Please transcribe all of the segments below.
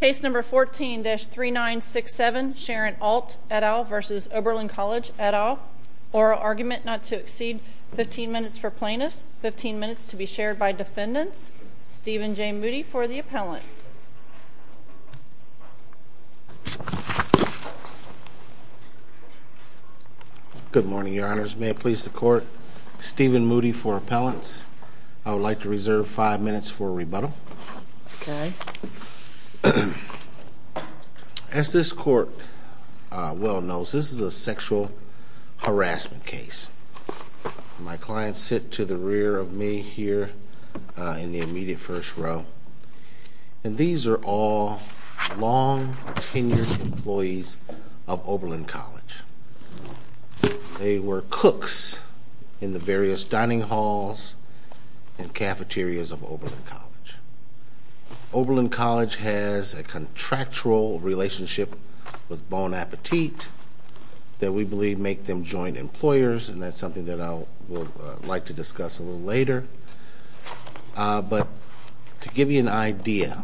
Case number 14-3967, Sharon Ault, et al. v. Oberlin College, et al. Oral argument not to exceed 15 minutes for plaintiffs, 15 minutes to be shared by defendants. Stephen J. Moody for the appellant. Good morning, your honors. May it please the court, Stephen Moody for appellants. I would like to reserve five minutes for rebuttal. As this court well knows, this is a sexual harassment case. My clients sit to the rear of me here in the immediate first row. And these are all long-tenured employees of Oberlin College. They were cooks in the various dining halls and cafeterias of Oberlin College. Oberlin College has a contractual relationship with Bon Appetit that we believe make them joint employers, and that's something that I would like to discuss a little later. But to give you an idea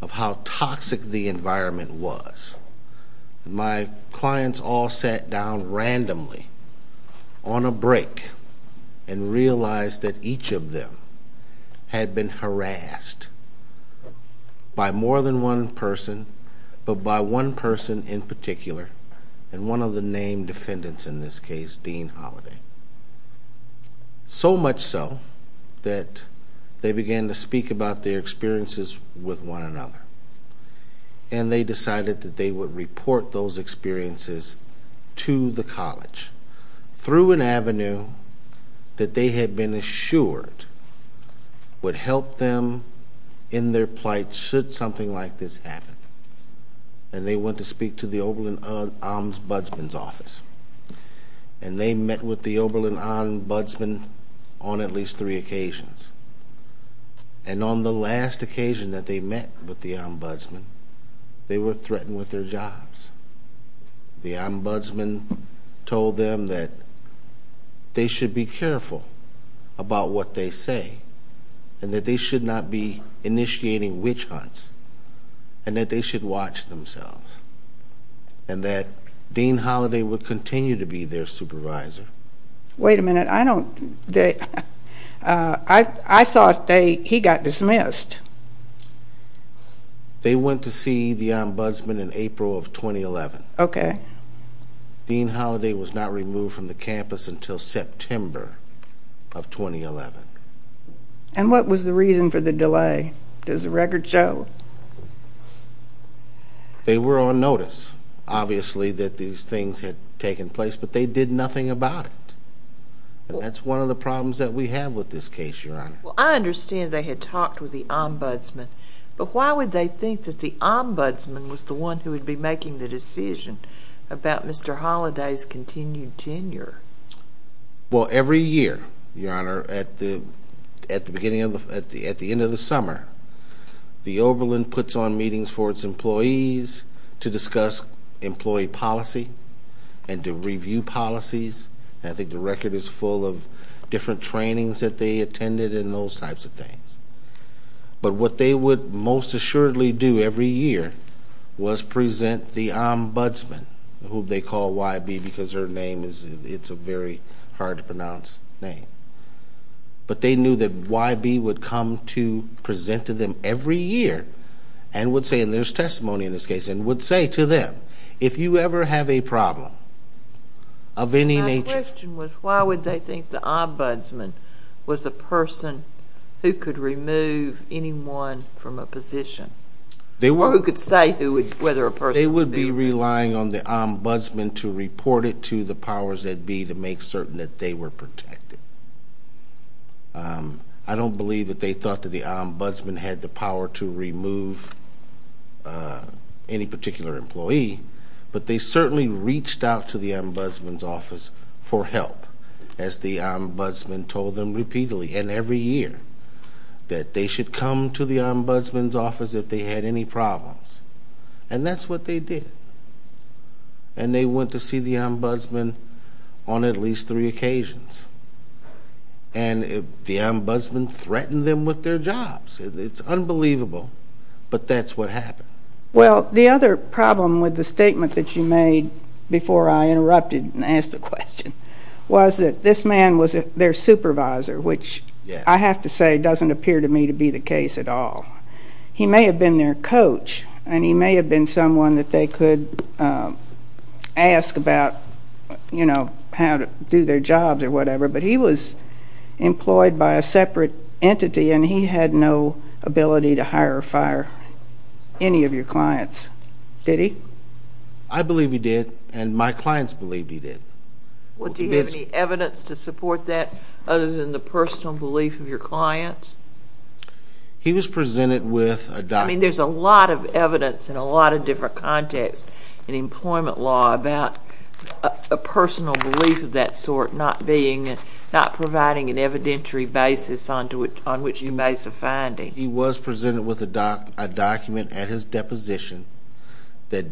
of how toxic the environment was, my clients all sat down randomly on a break and realized that each of them had been harassed by more than one person, but by one person in particular, and one of the named defendants in this case, Dean Holiday. So much so that they began to speak about their experiences with one another. And they decided that they would report those experiences to the college through an avenue that they had been assured would help them in their plight should something like this happen. And they went to speak to the Oberlin Ombudsman's office. And they met with the Oberlin Ombudsman on at least three occasions. And on the last occasion that they met with the Ombudsman, they were threatened with their jobs. The Ombudsman told them that they should be careful about what they say and that they should not be initiating witch hunts and that they should watch themselves and that Dean Holiday would continue to be their supervisor. Wait a minute. I thought he got dismissed. They went to see the Ombudsman in April of 2011. Dean Holiday was not removed from the campus until September of 2011. And what was the reason for the delay? Does the record show? They were on notice, obviously, that these things had taken place, but they did nothing about it. And that's one of the problems that we have with this case, Your Honor. Well, I understand they had talked with the Ombudsman. But why would they think that the Ombudsman was the one who would be making the decision about Mr. Holiday's continued tenure? Well, every year, Your Honor, at the end of the summer, the Oberlin puts on meetings for its employees to discuss employee policy and to review policies. And I think the record is full of different trainings that they attended and those types of things. But what they would most assuredly do every year was present the Ombudsman, whom they call YB because her name is a very hard to pronounce name. But they knew that YB would come to present to them every year and would say, and there's testimony in this case, and would say to them, if you ever have a problem of any nature— My question was, why would they think the Ombudsman was a person who could remove anyone from a position? Or who could say whether a person would be— They would be relying on the Ombudsman to report it to the powers that be to make certain that they were protected. I don't believe that they thought that the Ombudsman had the power to remove any particular employee, but they certainly reached out to the Ombudsman's office for help, as the Ombudsman told them repeatedly and every year, that they should come to the Ombudsman's office if they had any problems. And that's what they did. And they went to see the Ombudsman on at least three occasions. And the Ombudsman threatened them with their jobs. It's unbelievable, but that's what happened. Well, the other problem with the statement that you made, before I interrupted and asked a question, was that this man was their supervisor, which I have to say doesn't appear to me to be the case at all. He may have been their coach, and he may have been someone that they could ask about, you know, how to do their jobs or whatever, but he was employed by a separate entity, and he had no ability to hire or fire any of your clients. Did he? I believe he did, and my clients believed he did. Well, do you have any evidence to support that, He was presented with a document. I mean, there's a lot of evidence in a lot of different contexts in employment law about a personal belief of that sort not providing an evidentiary basis on which you may suffinding. He was presented with a document at his deposition that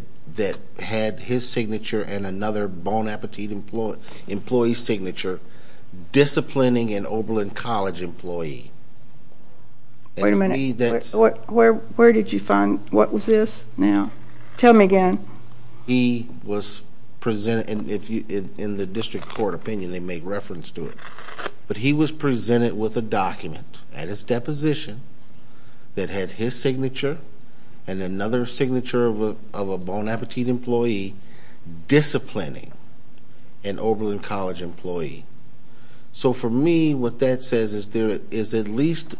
had his signature and another Bon Appetit employee's signature Wait a minute. Where did you find, what was this now? Tell me again. He was presented, and in the district court opinion, they make reference to it, but he was presented with a document at his deposition that had his signature and another signature of a Bon Appetit employee disciplining an Oberlin College employee. So for me, what that says is there is at least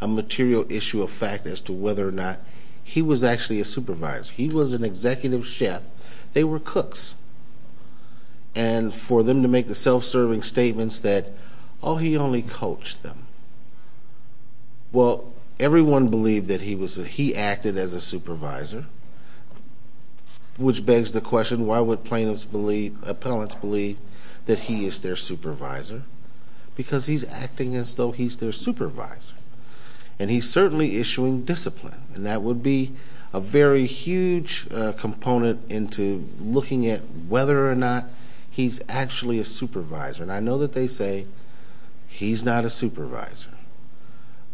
a material issue of fact as to whether or not he was actually a supervisor. He was an executive chef. They were cooks, and for them to make the self-serving statements that, oh, he only coached them. Well, everyone believed that he acted as a supervisor, which begs the question, why would plaintiffs believe, appellants believe that he is their supervisor? Because he's acting as though he's their supervisor, and he's certainly issuing discipline, and that would be a very huge component into looking at whether or not he's actually a supervisor. And I know that they say, he's not a supervisor.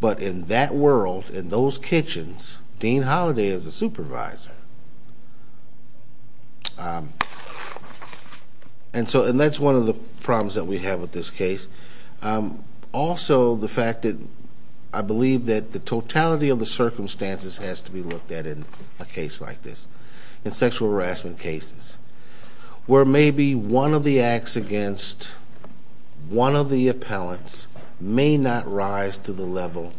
But in that world, in those kitchens, Dean Holiday is a supervisor. And that's one of the problems that we have with this case. Also, the fact that I believe that the totality of the circumstances has to be looked at in a case like this, in sexual harassment cases, where maybe one of the acts against one of the appellants may not rise to the level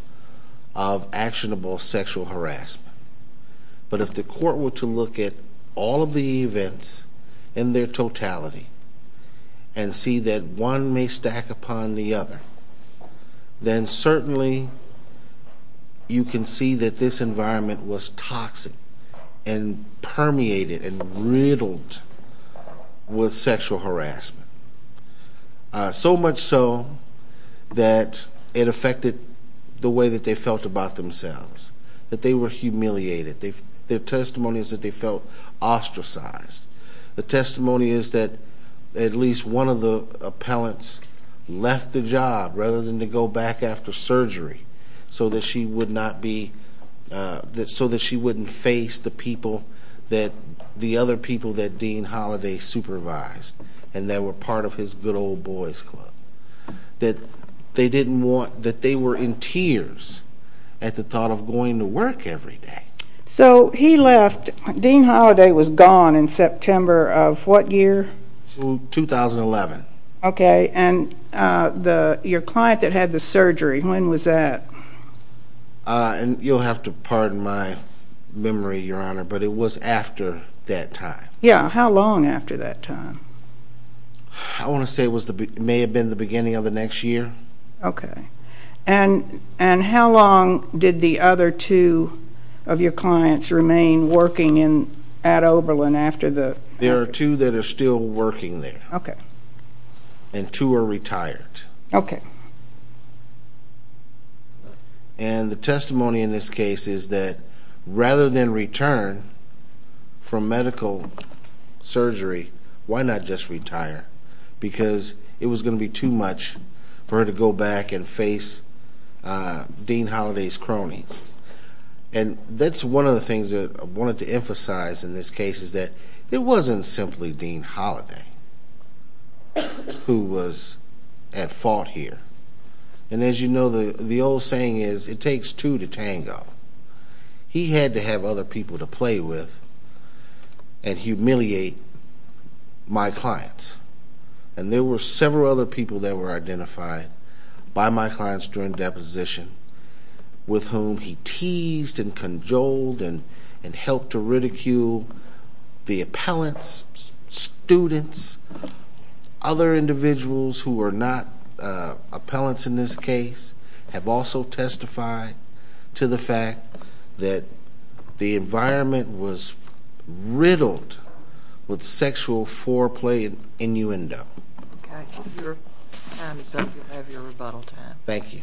of actionable sexual harassment. But if the court were to look at all of the events in their totality and see that one may stack upon the other, then certainly you can see that this environment was toxic and permeated and riddled with sexual harassment. So much so that it affected the way that they felt about themselves, that they were humiliated. Their testimony is that they felt ostracized. The testimony is that at least one of the appellants left the job rather than to go back after surgery, so that she would not be, so that she wouldn't face the people that, the other people that Dean Holiday supervised and that were part of his good old boys club. That they didn't want, that they were in tears at the thought of going to work every day. So he left, Dean Holiday was gone in September of what year? 2011. Okay, and your client that had the surgery, when was that? You'll have to pardon my memory, Your Honor, but it was after that time. Yeah, how long after that time? I want to say it may have been the beginning of the next year. Okay. And how long did the other two of your clients remain working at Oberlin after the? There are two that are still working there. Okay. And two are retired. Okay. And the testimony in this case is that rather than return from medical surgery, why not just retire? Because it was going to be too much for her to go back and face Dean Holiday's cronies. And that's one of the things that I wanted to emphasize in this case is that it wasn't simply Dean Holiday who was at fault here. And as you know, the old saying is, it takes two to tango. He had to have other people to play with and humiliate my clients. And there were several other people that were identified by my clients during deposition with whom he teased and conjoled and helped to ridicule the appellants, students. Other individuals who were not appellants in this case have also testified to the fact that the environment was riddled with sexual foreplay and innuendo. Okay. If your time is up, you'll have your rebuttal time. Thank you.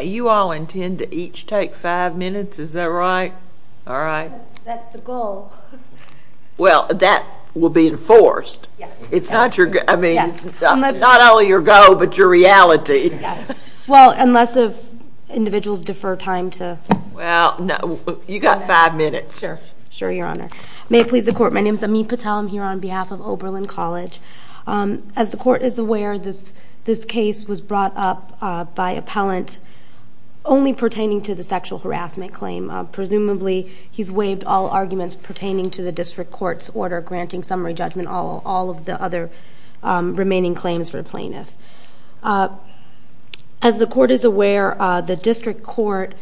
You all intend to each take five minutes, is that right? All right. That's the goal. Well, that will be enforced. Yes. I mean, it's not only your goal, but your reality. Well, unless the individuals defer time to... Well, no. You've got five minutes. Sure, Your Honor. May it please the Court. My name is Amit Patel. I'm here on behalf of Oberlin College. As the Court is aware, this case was brought up by appellant only pertaining to the sexual harassment claim. Presumably, he's waived all arguments pertaining to the district court's order granting summary judgment on all of the other remaining claims for the plaintiff. As the Court is aware, the district court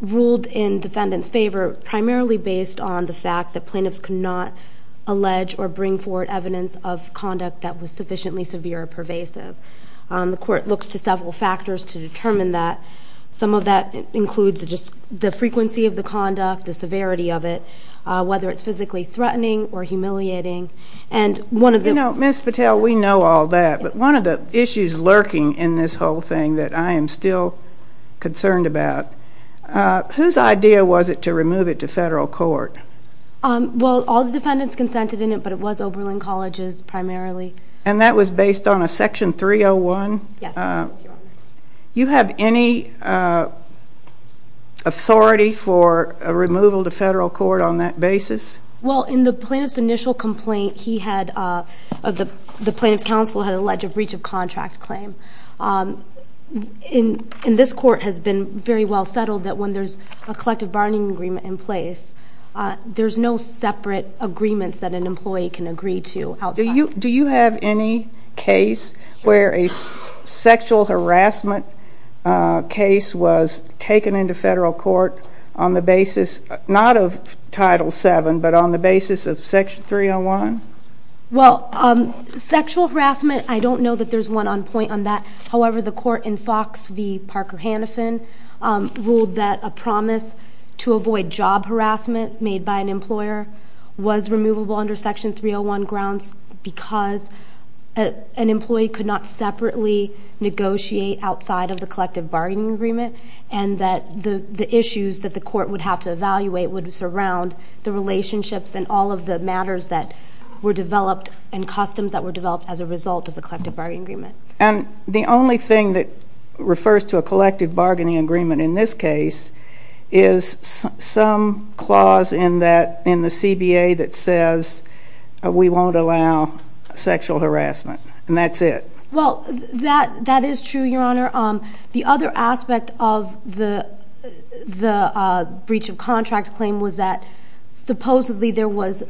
ruled in defendant's favor primarily based on the fact that plaintiffs could not allege or bring forward evidence of conduct that was sufficiently severe or pervasive. The Court looks to several factors to determine that. Some of that includes just the frequency of the conduct, the severity of it, whether it's physically threatening or humiliating, and one of the... You know, Ms. Patel, we know all that, but one of the issues lurking in this whole thing that I am still concerned about, whose idea was it to remove it to federal court? Well, all the defendants consented in it, but it was Oberlin College's primarily. And that was based on a Section 301? Yes, Your Honor. You have any authority for a removal to federal court on that basis? Well, in the plaintiff's initial complaint, he had... the plaintiff's counsel had alleged a breach of contract claim. And this Court has been very well settled that when there's a collective bargaining agreement in place, there's no separate agreements that an employee can agree to outside. Do you have any case where a sexual harassment case was taken into federal court on the basis, not of Title VII, but on the basis of Section 301? Well, sexual harassment, I don't know that there's one on point on that. However, the court in Fox v. Parker Hannafin ruled that a promise to avoid job harassment made by an employer was removable under Section 301 grounds because an employee could not separately negotiate outside of the collective bargaining agreement, and that the issues that the court would have to evaluate would surround the relationships and all of the matters that were developed and customs that were developed as a result of the collective bargaining agreement. And the only thing that refers to a collective bargaining agreement in this case is some clause in the CBA that says we won't allow sexual harassment, and that's it? Well, that is true, Your Honor. The other aspect of the breach of contract claim was that supposedly there was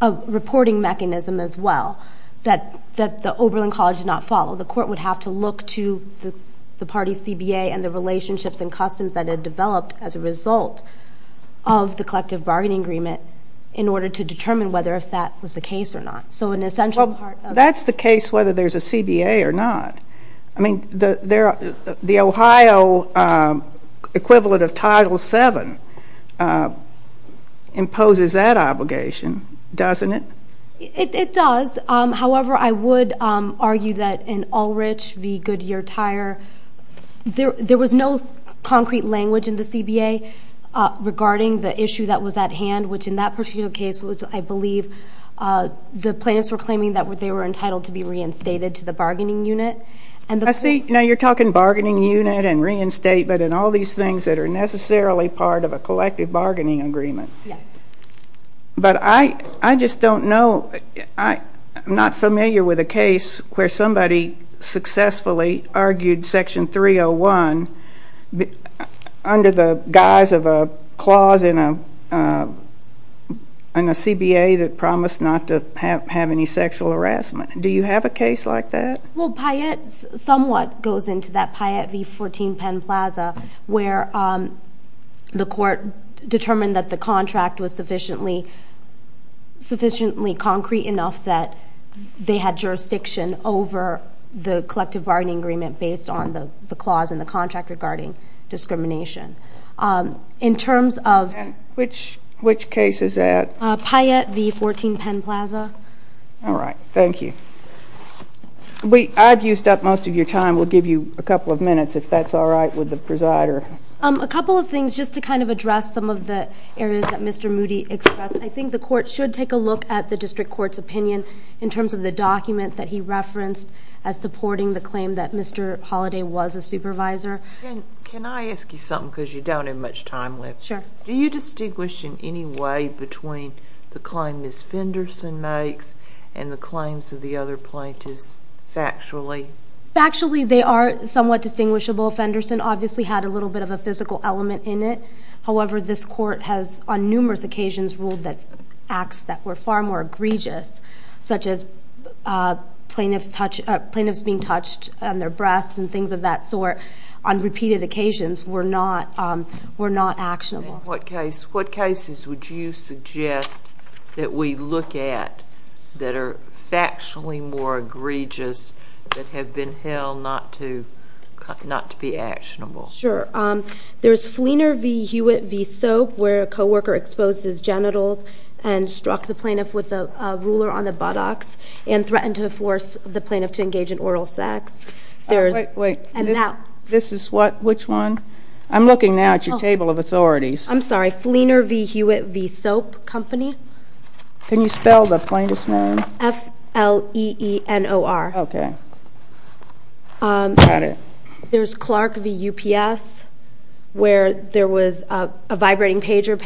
a reporting mechanism as well that the Oberlin College did not follow. The court would have to look to the party's CBA and the relationships and customs that had developed as a result of the collective bargaining agreement in order to determine whether if that was the case or not. Well, that's the case whether there's a CBA or not. I mean, the Ohio equivalent of Title VII imposes that obligation, doesn't it? It does. However, I would argue that in Ulrich v. Goodyear-Tyre, there was no concrete language in the CBA regarding the issue that was at hand, which in that particular case, which I believe the plaintiffs were claiming that they were entitled to be reinstated to the bargaining unit. I see. Now, you're talking bargaining unit and reinstatement and all these things that are necessarily part of a collective bargaining agreement. Yes. But I just don't know. I'm not familiar with a case where somebody successfully argued Section 301 under the guise of a clause in a CBA that promised not to have any sexual harassment. Do you have a case like that? It somewhat goes into that Payette v. 14 Penn Plaza, where the court determined that the contract was sufficiently concrete enough that they had jurisdiction over the collective bargaining agreement based on the clause in the contract regarding discrimination. In terms of— Which case is that? Payette v. 14 Penn Plaza. All right. Thank you. I've used up most of your time. We'll give you a couple of minutes, if that's all right with the presider. A couple of things, just to kind of address some of the areas that Mr. Moody expressed. I think the court should take a look at the district court's opinion in terms of the document that he referenced as supporting the claim that Mr. Holliday was a supervisor. Can I ask you something, because you don't have much time left? Sure. Do you distinguish in any way between the claim Ms. Fenderson makes and the claims of the other plaintiffs factually? Factually, they are somewhat distinguishable. Fenderson obviously had a little bit of a physical element in it. However, this court has, on numerous occasions, ruled that acts that were far more egregious, such as plaintiffs being touched on their breasts and things of that sort, on repeated occasions, were not actionable. In what cases would you suggest that we look at that are factually more egregious, that have been held not to be actionable? Sure. There's Fleener v. Hewitt v. Soap, where a co-worker exposed his genitals and struck the plaintiff with a ruler on the buttocks and threatened to force the plaintiff to engage in oral sex. Wait, wait. This is what? Which one? I'm looking now at your table of authorities. I'm sorry. Fleener v. Hewitt v. Soap Company. Can you spell the plaintiff's name? F-L-E-E-N-O-R. Okay. Got it. There's Clark v. UPS, where there was a vibrating pager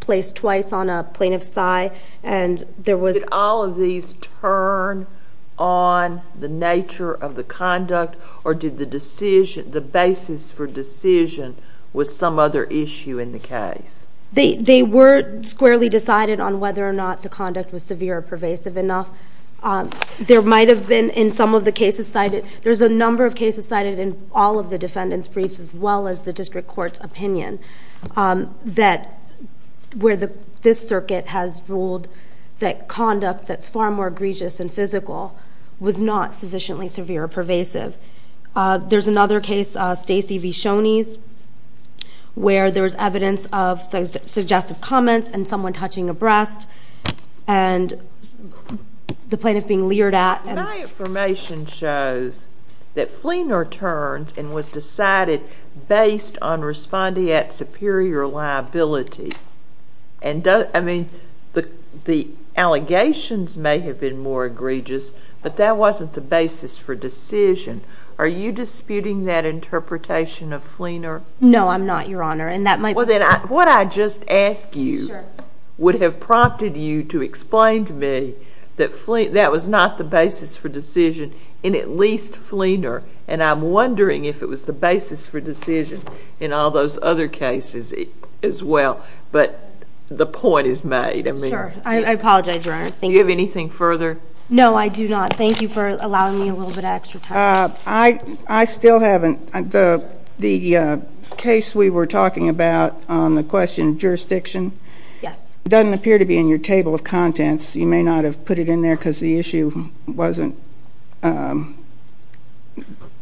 placed twice on a plaintiff's thigh, and there was... Did all of these turn on the nature of the conduct, or did the basis for decision was some other issue in the case? They were squarely decided on whether or not the conduct was severe or pervasive enough. There might have been, in some of the cases cited, there's a number of cases cited in all of the defendant's briefs, as well as the district court's opinion, where this circuit has ruled that conduct that's far more egregious and physical was not sufficiently severe or pervasive. There's another case, Stacy v. Shoney's, where there's evidence of suggestive comments and someone touching a breast, and the plaintiff being leered at. My information shows that Fleener turns and was decided based on responding at superior liability. I mean, the allegations may have been more egregious, but that wasn't the basis for decision. Are you disputing that interpretation of Fleener? No, I'm not, Your Honor. Well, then, what I just asked you would have prompted you to explain to me that that was not the basis for decision in at least Fleener, and I'm wondering if it was the basis for decision in all those other cases as well. But the point is made. Sure. I apologize, Your Honor. Do you have anything further? No, I do not. Thank you for allowing me a little bit of extra time. I still haven't. The case we were talking about on the question of jurisdiction doesn't appear to be in your table of contents. You may not have put it in there because the issue wasn't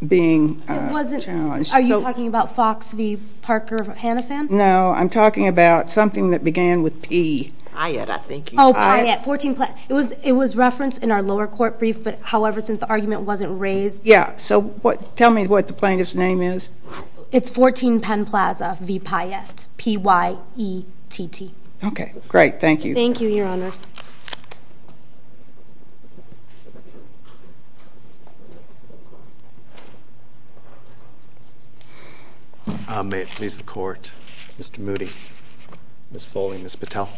being challenged. Are you talking about Fox v. Parker of Hannafan? No, I'm talking about something that began with P. Pyatt, I think. It was referenced in our lower court brief, but however, since the argument wasn't raised. Tell me what the plaintiff's name is. It's 14 Penn Plaza v. Pyatt. P-Y-E-T-T. Okay. Great. Thank you. Thank you, Your Honor. May it please the Court. Mr. Moody, Ms. Foley, Ms. Patel.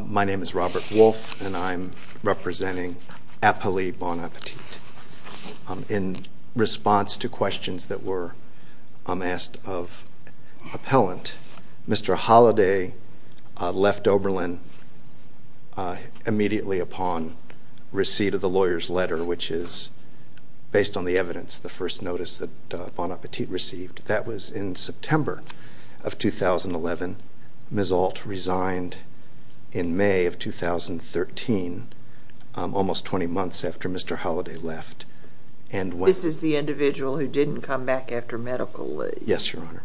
My name is Robert Wolf, and I'm representing Eppley Bon Appetit. In response to questions that were asked of appellant, Mr. Holliday left Oberlin immediately upon receipt of the lawyer's letter, which is based on the evidence, the first notice that Bon Appetit received. That was in September of 2011. Ms. Ault resigned in May of 2013, almost 20 months after Mr. Holliday left. This is the individual who didn't come back after medical leave? Yes, Your Honor.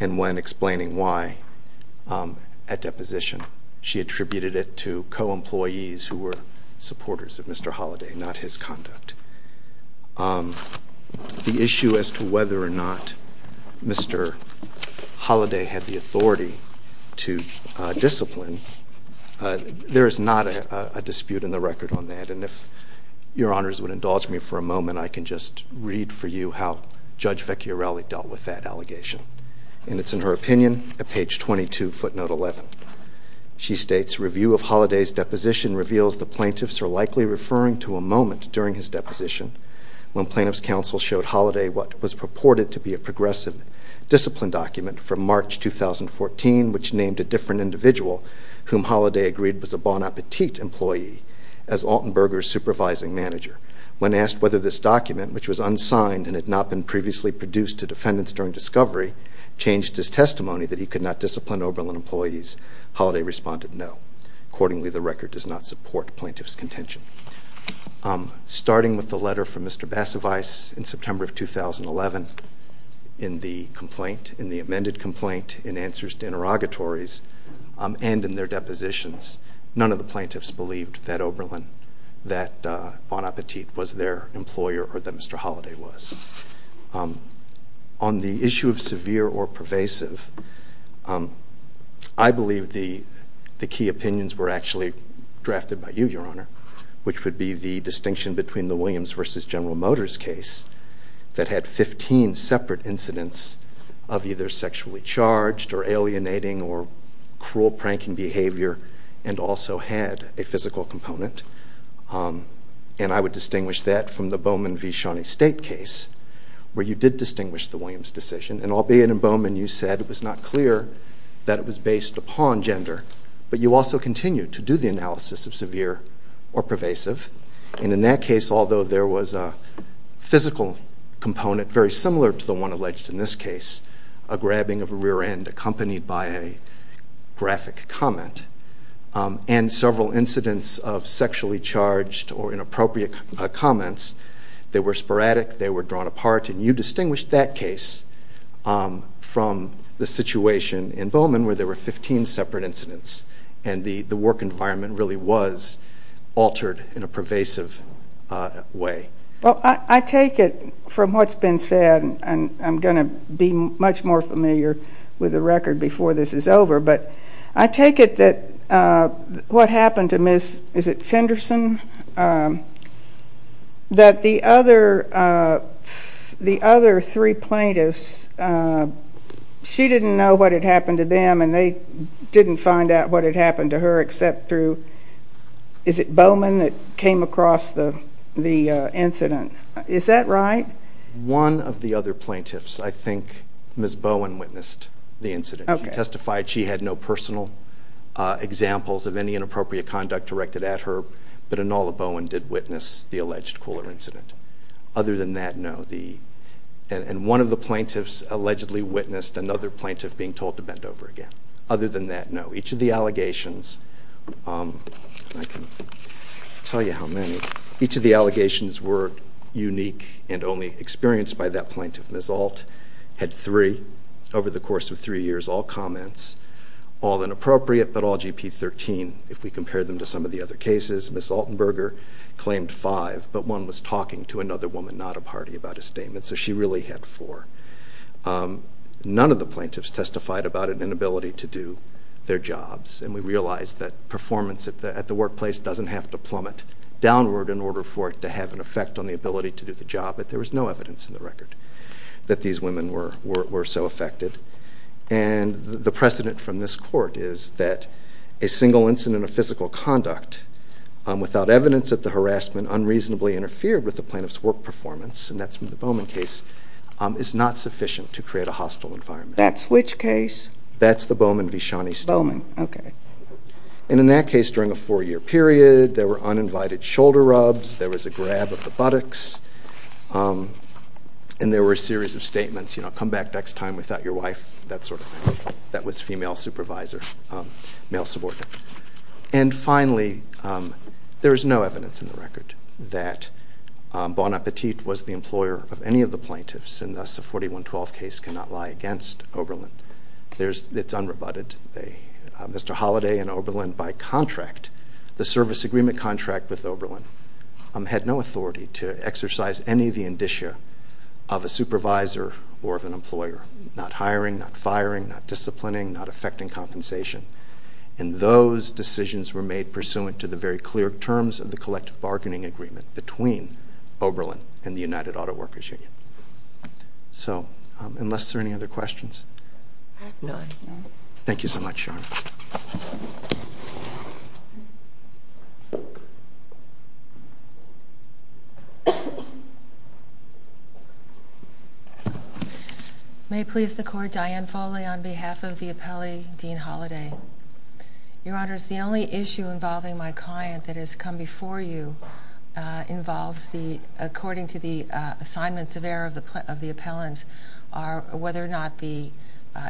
And when explaining why at deposition, she attributed it to co-employees who were supporters of Mr. Holliday, not his conduct. The issue as to whether or not Mr. Holliday had the authority to discipline, there is not a dispute in the record on that. And if Your Honors would indulge me for a moment, I can just read for you how Judge Vecchiarelli dealt with that allegation. And it's in her opinion at page 22, footnote 11. She states, Review of Holliday's deposition reveals the plaintiffs are likely referring to a moment during his deposition when plaintiff's counsel showed Holliday what was purported to be a progressive discipline document from March 2014, which named a different individual whom Holliday agreed was a Bon Appetit employee as Altenberger's supervising manager. When asked whether this document, which was unsigned and had not been previously produced to defendants during discovery, changed his testimony that he could not discipline Oberlin employees, Holliday responded no. Accordingly, the record does not support plaintiff's contention. Starting with the letter from Mr. Basavice in September of 2011, in the complaint, in the amended complaint, in answers to interrogatories, and in their depositions, none of the plaintiffs believed that Oberlin, that Bon Appetit was their employer or that Mr. Holliday was. On the issue of severe or pervasive, I believe the key opinions were actually drafted by you, Your Honor, which would be the distinction between the Williams versus General Motors case that had 15 separate incidents of either sexually charged or alienating or cruel pranking behavior and also had a physical component. And I would distinguish that from the Bowman v. Shawnee State case where you did distinguish the Williams decision. And albeit in Bowman you said it was not clear that it was based upon gender, but you also continued to do the analysis of severe or pervasive. And in that case, although there was a physical component very similar to the one alleged in this case, a grabbing of a rear end accompanied by a graphic comment. And several incidents of sexually charged or inappropriate comments, they were sporadic, they were drawn apart, and you distinguished that case from the situation in Bowman where there were 15 separate incidents and the work environment really was altered in a pervasive way. Well, I take it from what's been said and I'm going to be much more familiar with the record before this is over, but I take it that what happened to Miss, is it Fenderson? That the other three plaintiffs, she didn't know what had happened to them and they didn't find out what had happened to her except through, is it Bowman that came across the incident? Is that right? The other three plaintiffs, I think Miss Bowman witnessed the incident. She testified she had no personal examples of any inappropriate conduct directed at her, but Enola Bowman did witness the alleged cooler incident. Other than that, no. And one of the plaintiffs allegedly witnessed another plaintiff being told to bend over again. Other than that, no. Each of the allegations, I can't tell you how many, each of the allegations were unique and only experienced by that plaintiff. Miss Alt had three. Over the course of three years, all comments, all inappropriate, but all GP-13 if we compare them to some of the other cases. Miss Altenberger claimed five, but one was talking to another woman, not a party, about a statement, so she really had four. None of the plaintiffs testified about an inability to do their jobs and we realize that performance at the workplace doesn't have to plummet downward in order for it to have an effect on the job, but there was no evidence in the record that these women were so affected. And the precedent from this court is that a single incident of physical conduct without evidence that the harassment unreasonably interfered with the plaintiff's work performance, and that's in the Bowman case, is not sufficient to create a hostile environment. That's which case? That's the Bowman-Vishani-Stalman. Bowman, okay. And there were a series of statements, you know, come back next time without your wife, that sort of thing. That was female supervisor, male subordinate. And finally, there is no evidence in the record that Bon Appetit was the employer of any of the plaintiffs and thus the 41-12 case cannot lie against Oberlin. It's unrebutted. Mr. Holliday and Oberlin, by contract, the service agreement contract with Oberlin, was the indicia of a supervisor or of an employer. Not hiring, not firing, not disciplining, not effecting compensation. And those decisions were made pursuant to the very clear terms of the collective bargaining agreement between Oberlin and the United Auto Workers Union. So, unless there are any other questions? No. Thank you so much, Sharma. May it please the Court, Diane Foley on behalf of the appellee, Dean Holliday. Your Honor, the only issue involving my client that has come before you involves the, according to the assignments of error of the appellant, are whether or not the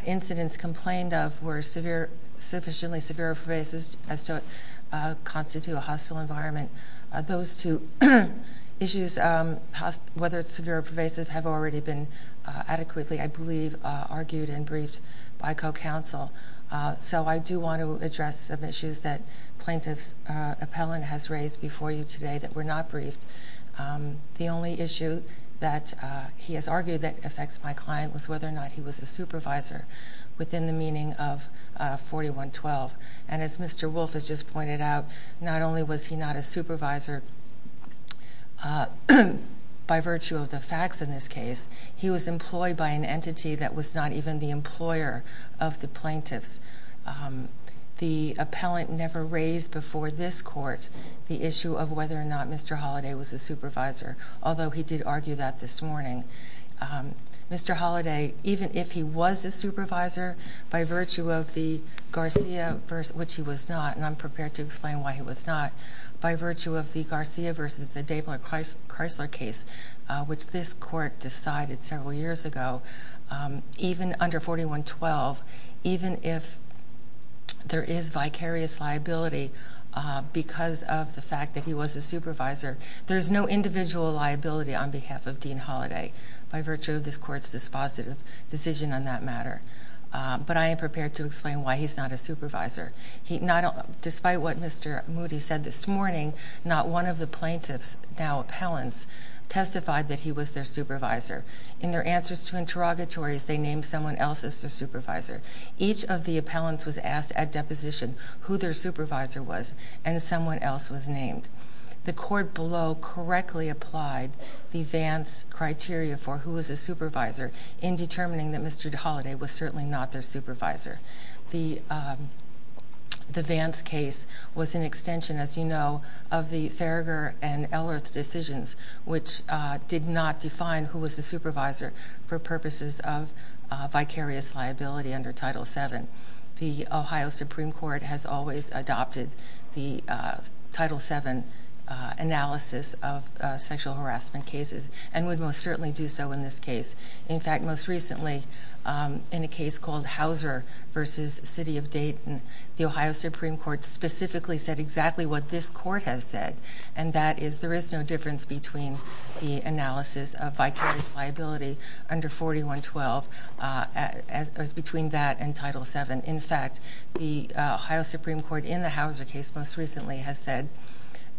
incidents complained of were severe, sufficiently severe for basis as to constitute a hostile environment. Those two issues, whether it's severe or pervasive, have already been adequately, I believe, argued and briefed by co-counsel. So, I do want to address some issues that plaintiff's appellant has raised before you today that were not briefed. The only issue that he has argued that affects my client was whether or not he was a supervisor within the meaning of 4112. And as Mr. Wolf has just pointed out, not only was he not a supervisor, by virtue of the facts in this case, he was employed by an entity that was not even the employer of the plaintiffs. The appellant never raised before this court the issue of whether or not Mr. Holliday was a supervisor, although he did argue that this morning. Mr. Holliday, even if he was a supervisor by virtue of the Garcia, which he was not, and I'm prepared to explain why he was not, by virtue of the Garcia versus the Dabler-Chrysler case, which this court decided several years ago, even under 4112, even if there is vicarious liability because of the fact that he was a supervisor, there's no individual liability on behalf of Dean Holliday by virtue of this court's dispositive decision on that matter. But I am prepared to explain why he's not a supervisor. Despite what Mr. Moody said this morning, not one of the plaintiffs, now appellants, testified that he was their supervisor. In their answers to interrogatories, they named someone else as their supervisor. Each of the appellants was asked at deposition who their supervisor was and someone else was named. The court below correctly applied the Vance criteria for who was a supervisor in determining that Mr. Holliday was certainly not their supervisor. The Vance case was an extension, as you know, of the Theriger and Ellerth decisions, which did not define who was the supervisor for purposes of vicarious liability under Title VII. The Ohio Supreme Court has always adopted the Title VII analysis of sexual harassment cases and would most certainly do so in this case. In fact, most recently, in a case called Hauser, versus City of Dayton, the Ohio Supreme Court specifically said exactly what this court has said, and that is there is no difference between the analysis of vicarious liability under 4112 as between that and Title VII. In fact, the Ohio Supreme Court in the Hauser case most recently has said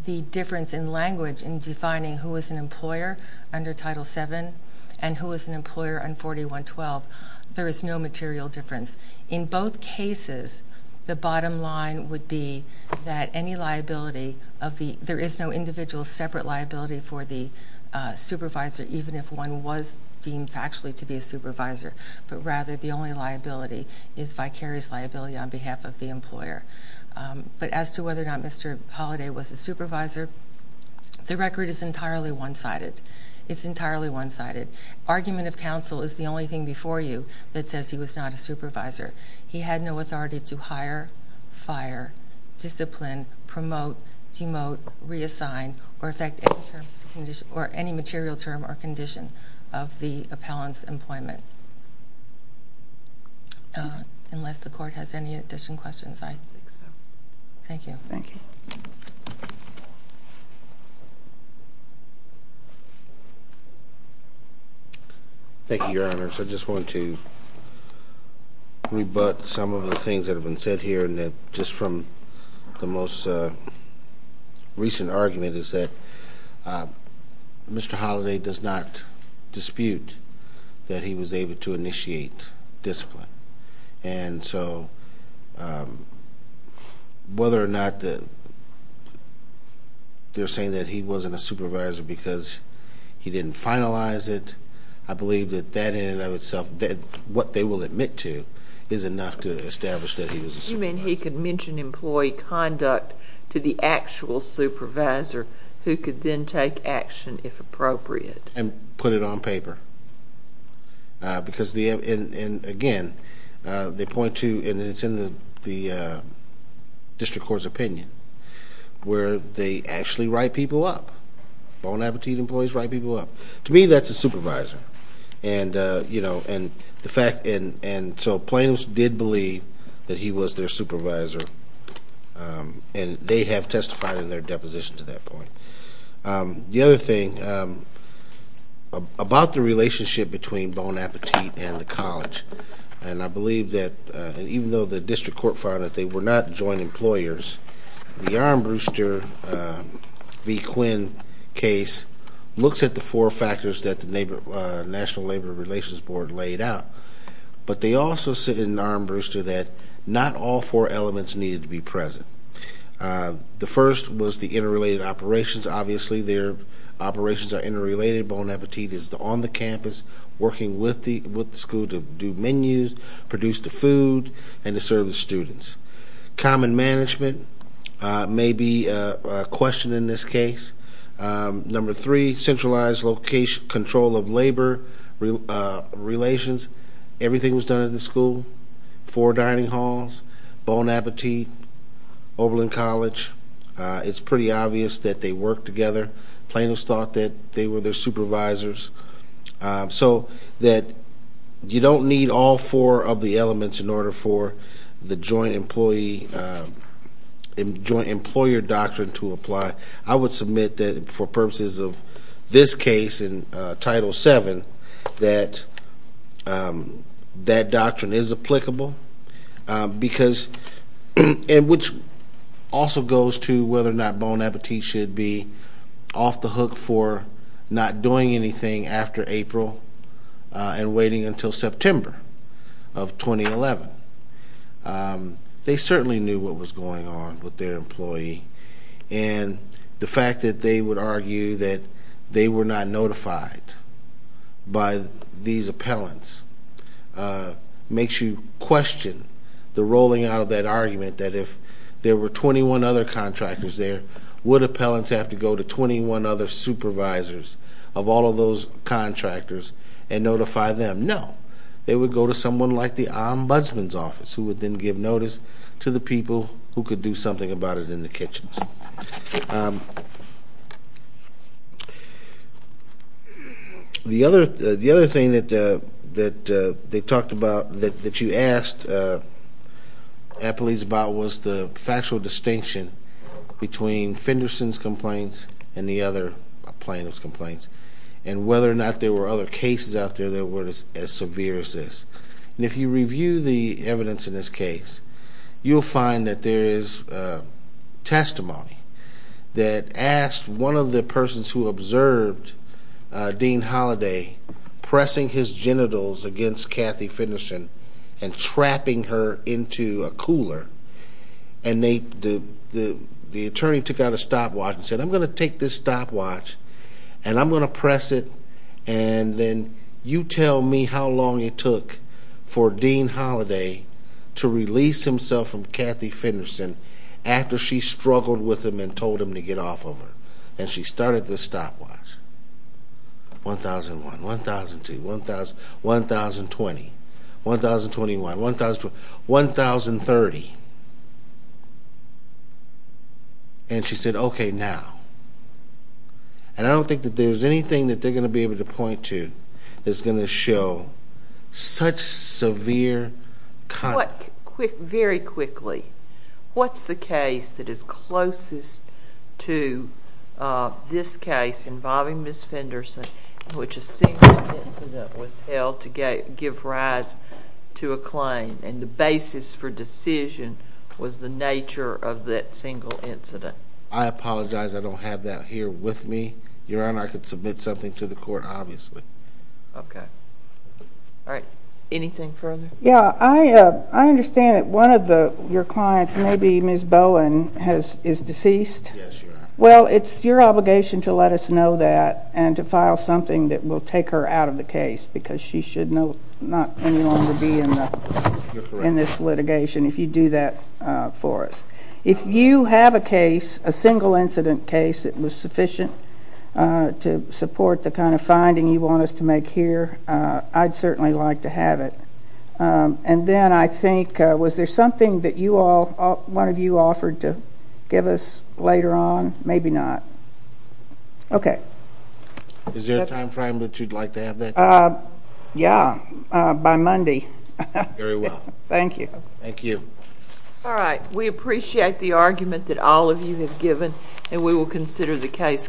the difference in language in defining who is an employer under Title VII and who is an employer under 4112, there is no material difference. In both cases, the bottom line would be that any liability of the— there is no individual separate liability for the supervisor, even if one was deemed factually to be a supervisor, but rather the only liability is vicarious liability on behalf of the employer. But as to whether or not Mr. Holliday was a supervisor, the record is entirely one-sided. It's entirely one-sided. Argument of counsel is the only thing he had no authority to hire, fire, discipline, promote, demote, reassign, or affect any material term or condition of the appellant's employment. Unless the court has any additional questions, I think so. Thank you. Thank you, Your Honors. I just want to rebut some of the things that have been said here and that just from the most recent argument is that Mr. Holliday does not dispute that he was able to initiate discipline. And so, whether or not they're saying that he wasn't a supervisor because he didn't finalize it, I believe that that in and of itself, what they will admit to is enough to establish that he was a supervisor. You mean he could mention employee conduct to the actual supervisor who could then take action if appropriate? And put it on paper. Because again, they point to, and it's in the district court's opinion, write people up. Bon Appetit employees write people up. To me, that's a supervisor. And so, plaintiffs did believe that he was their supervisor. And they have testified in their deposition to that point. The other thing, about the relationship between Bon Appetit and the college, and I believe that, even though the district court found that they were not joint employers, the Aaron Brewster v. Quinn case looks at the four factors that the National Labor Relations Board pointed out. But they also sit in Aaron Brewster that not all four elements needed to be present. The first was the interrelated operations. Obviously, their operations are interrelated. Bon Appetit is on the campus working with the school to do menus, produce the food, and to serve the students. Common management may be a question in this case. Number three, everything was done at the school. Four dining halls, Bon Appetit, Oberlin College. It's pretty obvious that they work together. Plaintiffs thought that they were their supervisors. So, you don't need all four of the elements in order for the joint employer doctrine to apply. I would submit that, for purposes of this case in Title VII, that that doctrine is applicable. Because, which also goes to whether or not Bon Appetit should be off the hook for not doing anything after April and waiting until September of 2011. They certainly knew what was going on with their employee. And the fact that they would argue that they were not notified by these appellants makes you question the rolling out of that argument that if there were 21 other contractors there, would appellants have to go to 21 other supervisors of all of those contractors and notify them? No. They would go to someone like the Ombudsman's office who would then give notice to the people who could do something about it in the kitchens. The other thing that they talked about, that you asked appellees about, was the factual distinction between Fenderson's complaints and the other plaintiff's complaints. And whether or not there were other cases out there that were as severe as this. And if you review the evidence in this case, you'll find that there is testimony that asked one of the persons who observed Dean Holiday pressing his genitals against Kathy Fenderson and trapping her into a cooler. And the attorney took out a stopwatch and said, I'm going to take this stopwatch and I'm going to press it and then you tell me how long it took for Dean Holiday to release himself from Kathy Fenderson after she struggled with him and told him to get off of her. And she started the stopwatch. 1,001, 1,002, 1,020, 1,021, 1,030. And she said, okay, now. And I don't think that there's anything that they're going to be able to point to that's going to show such severe... Very quickly, what's the case that is closest to this case involving Ms. Fenderson in which a single incident was held to give rise to a claim and the basis for decision was the nature of that single incident? I apologize. I don't have that here with me. Your Honor, I could submit something to the court, obviously. Okay. All right. Anything further? Yeah, I understand that one of your clients, maybe Ms. Bowen, is deceased. I would like to know that and to file something that will take her out of the case because she should not any longer be in this litigation if you do that for us. If you have a case, a single incident case that was sufficient to support the kind of finding you want us to make here, I'd certainly like to have it. And then I think, was there something that you all, one of you offered that you'd like to have? Is there a time frame that you'd like to have that? Yeah, by Monday. Very well. Thank you. Thank you. All right. We appreciate the argument that all of you have given and we will consider the case carefully.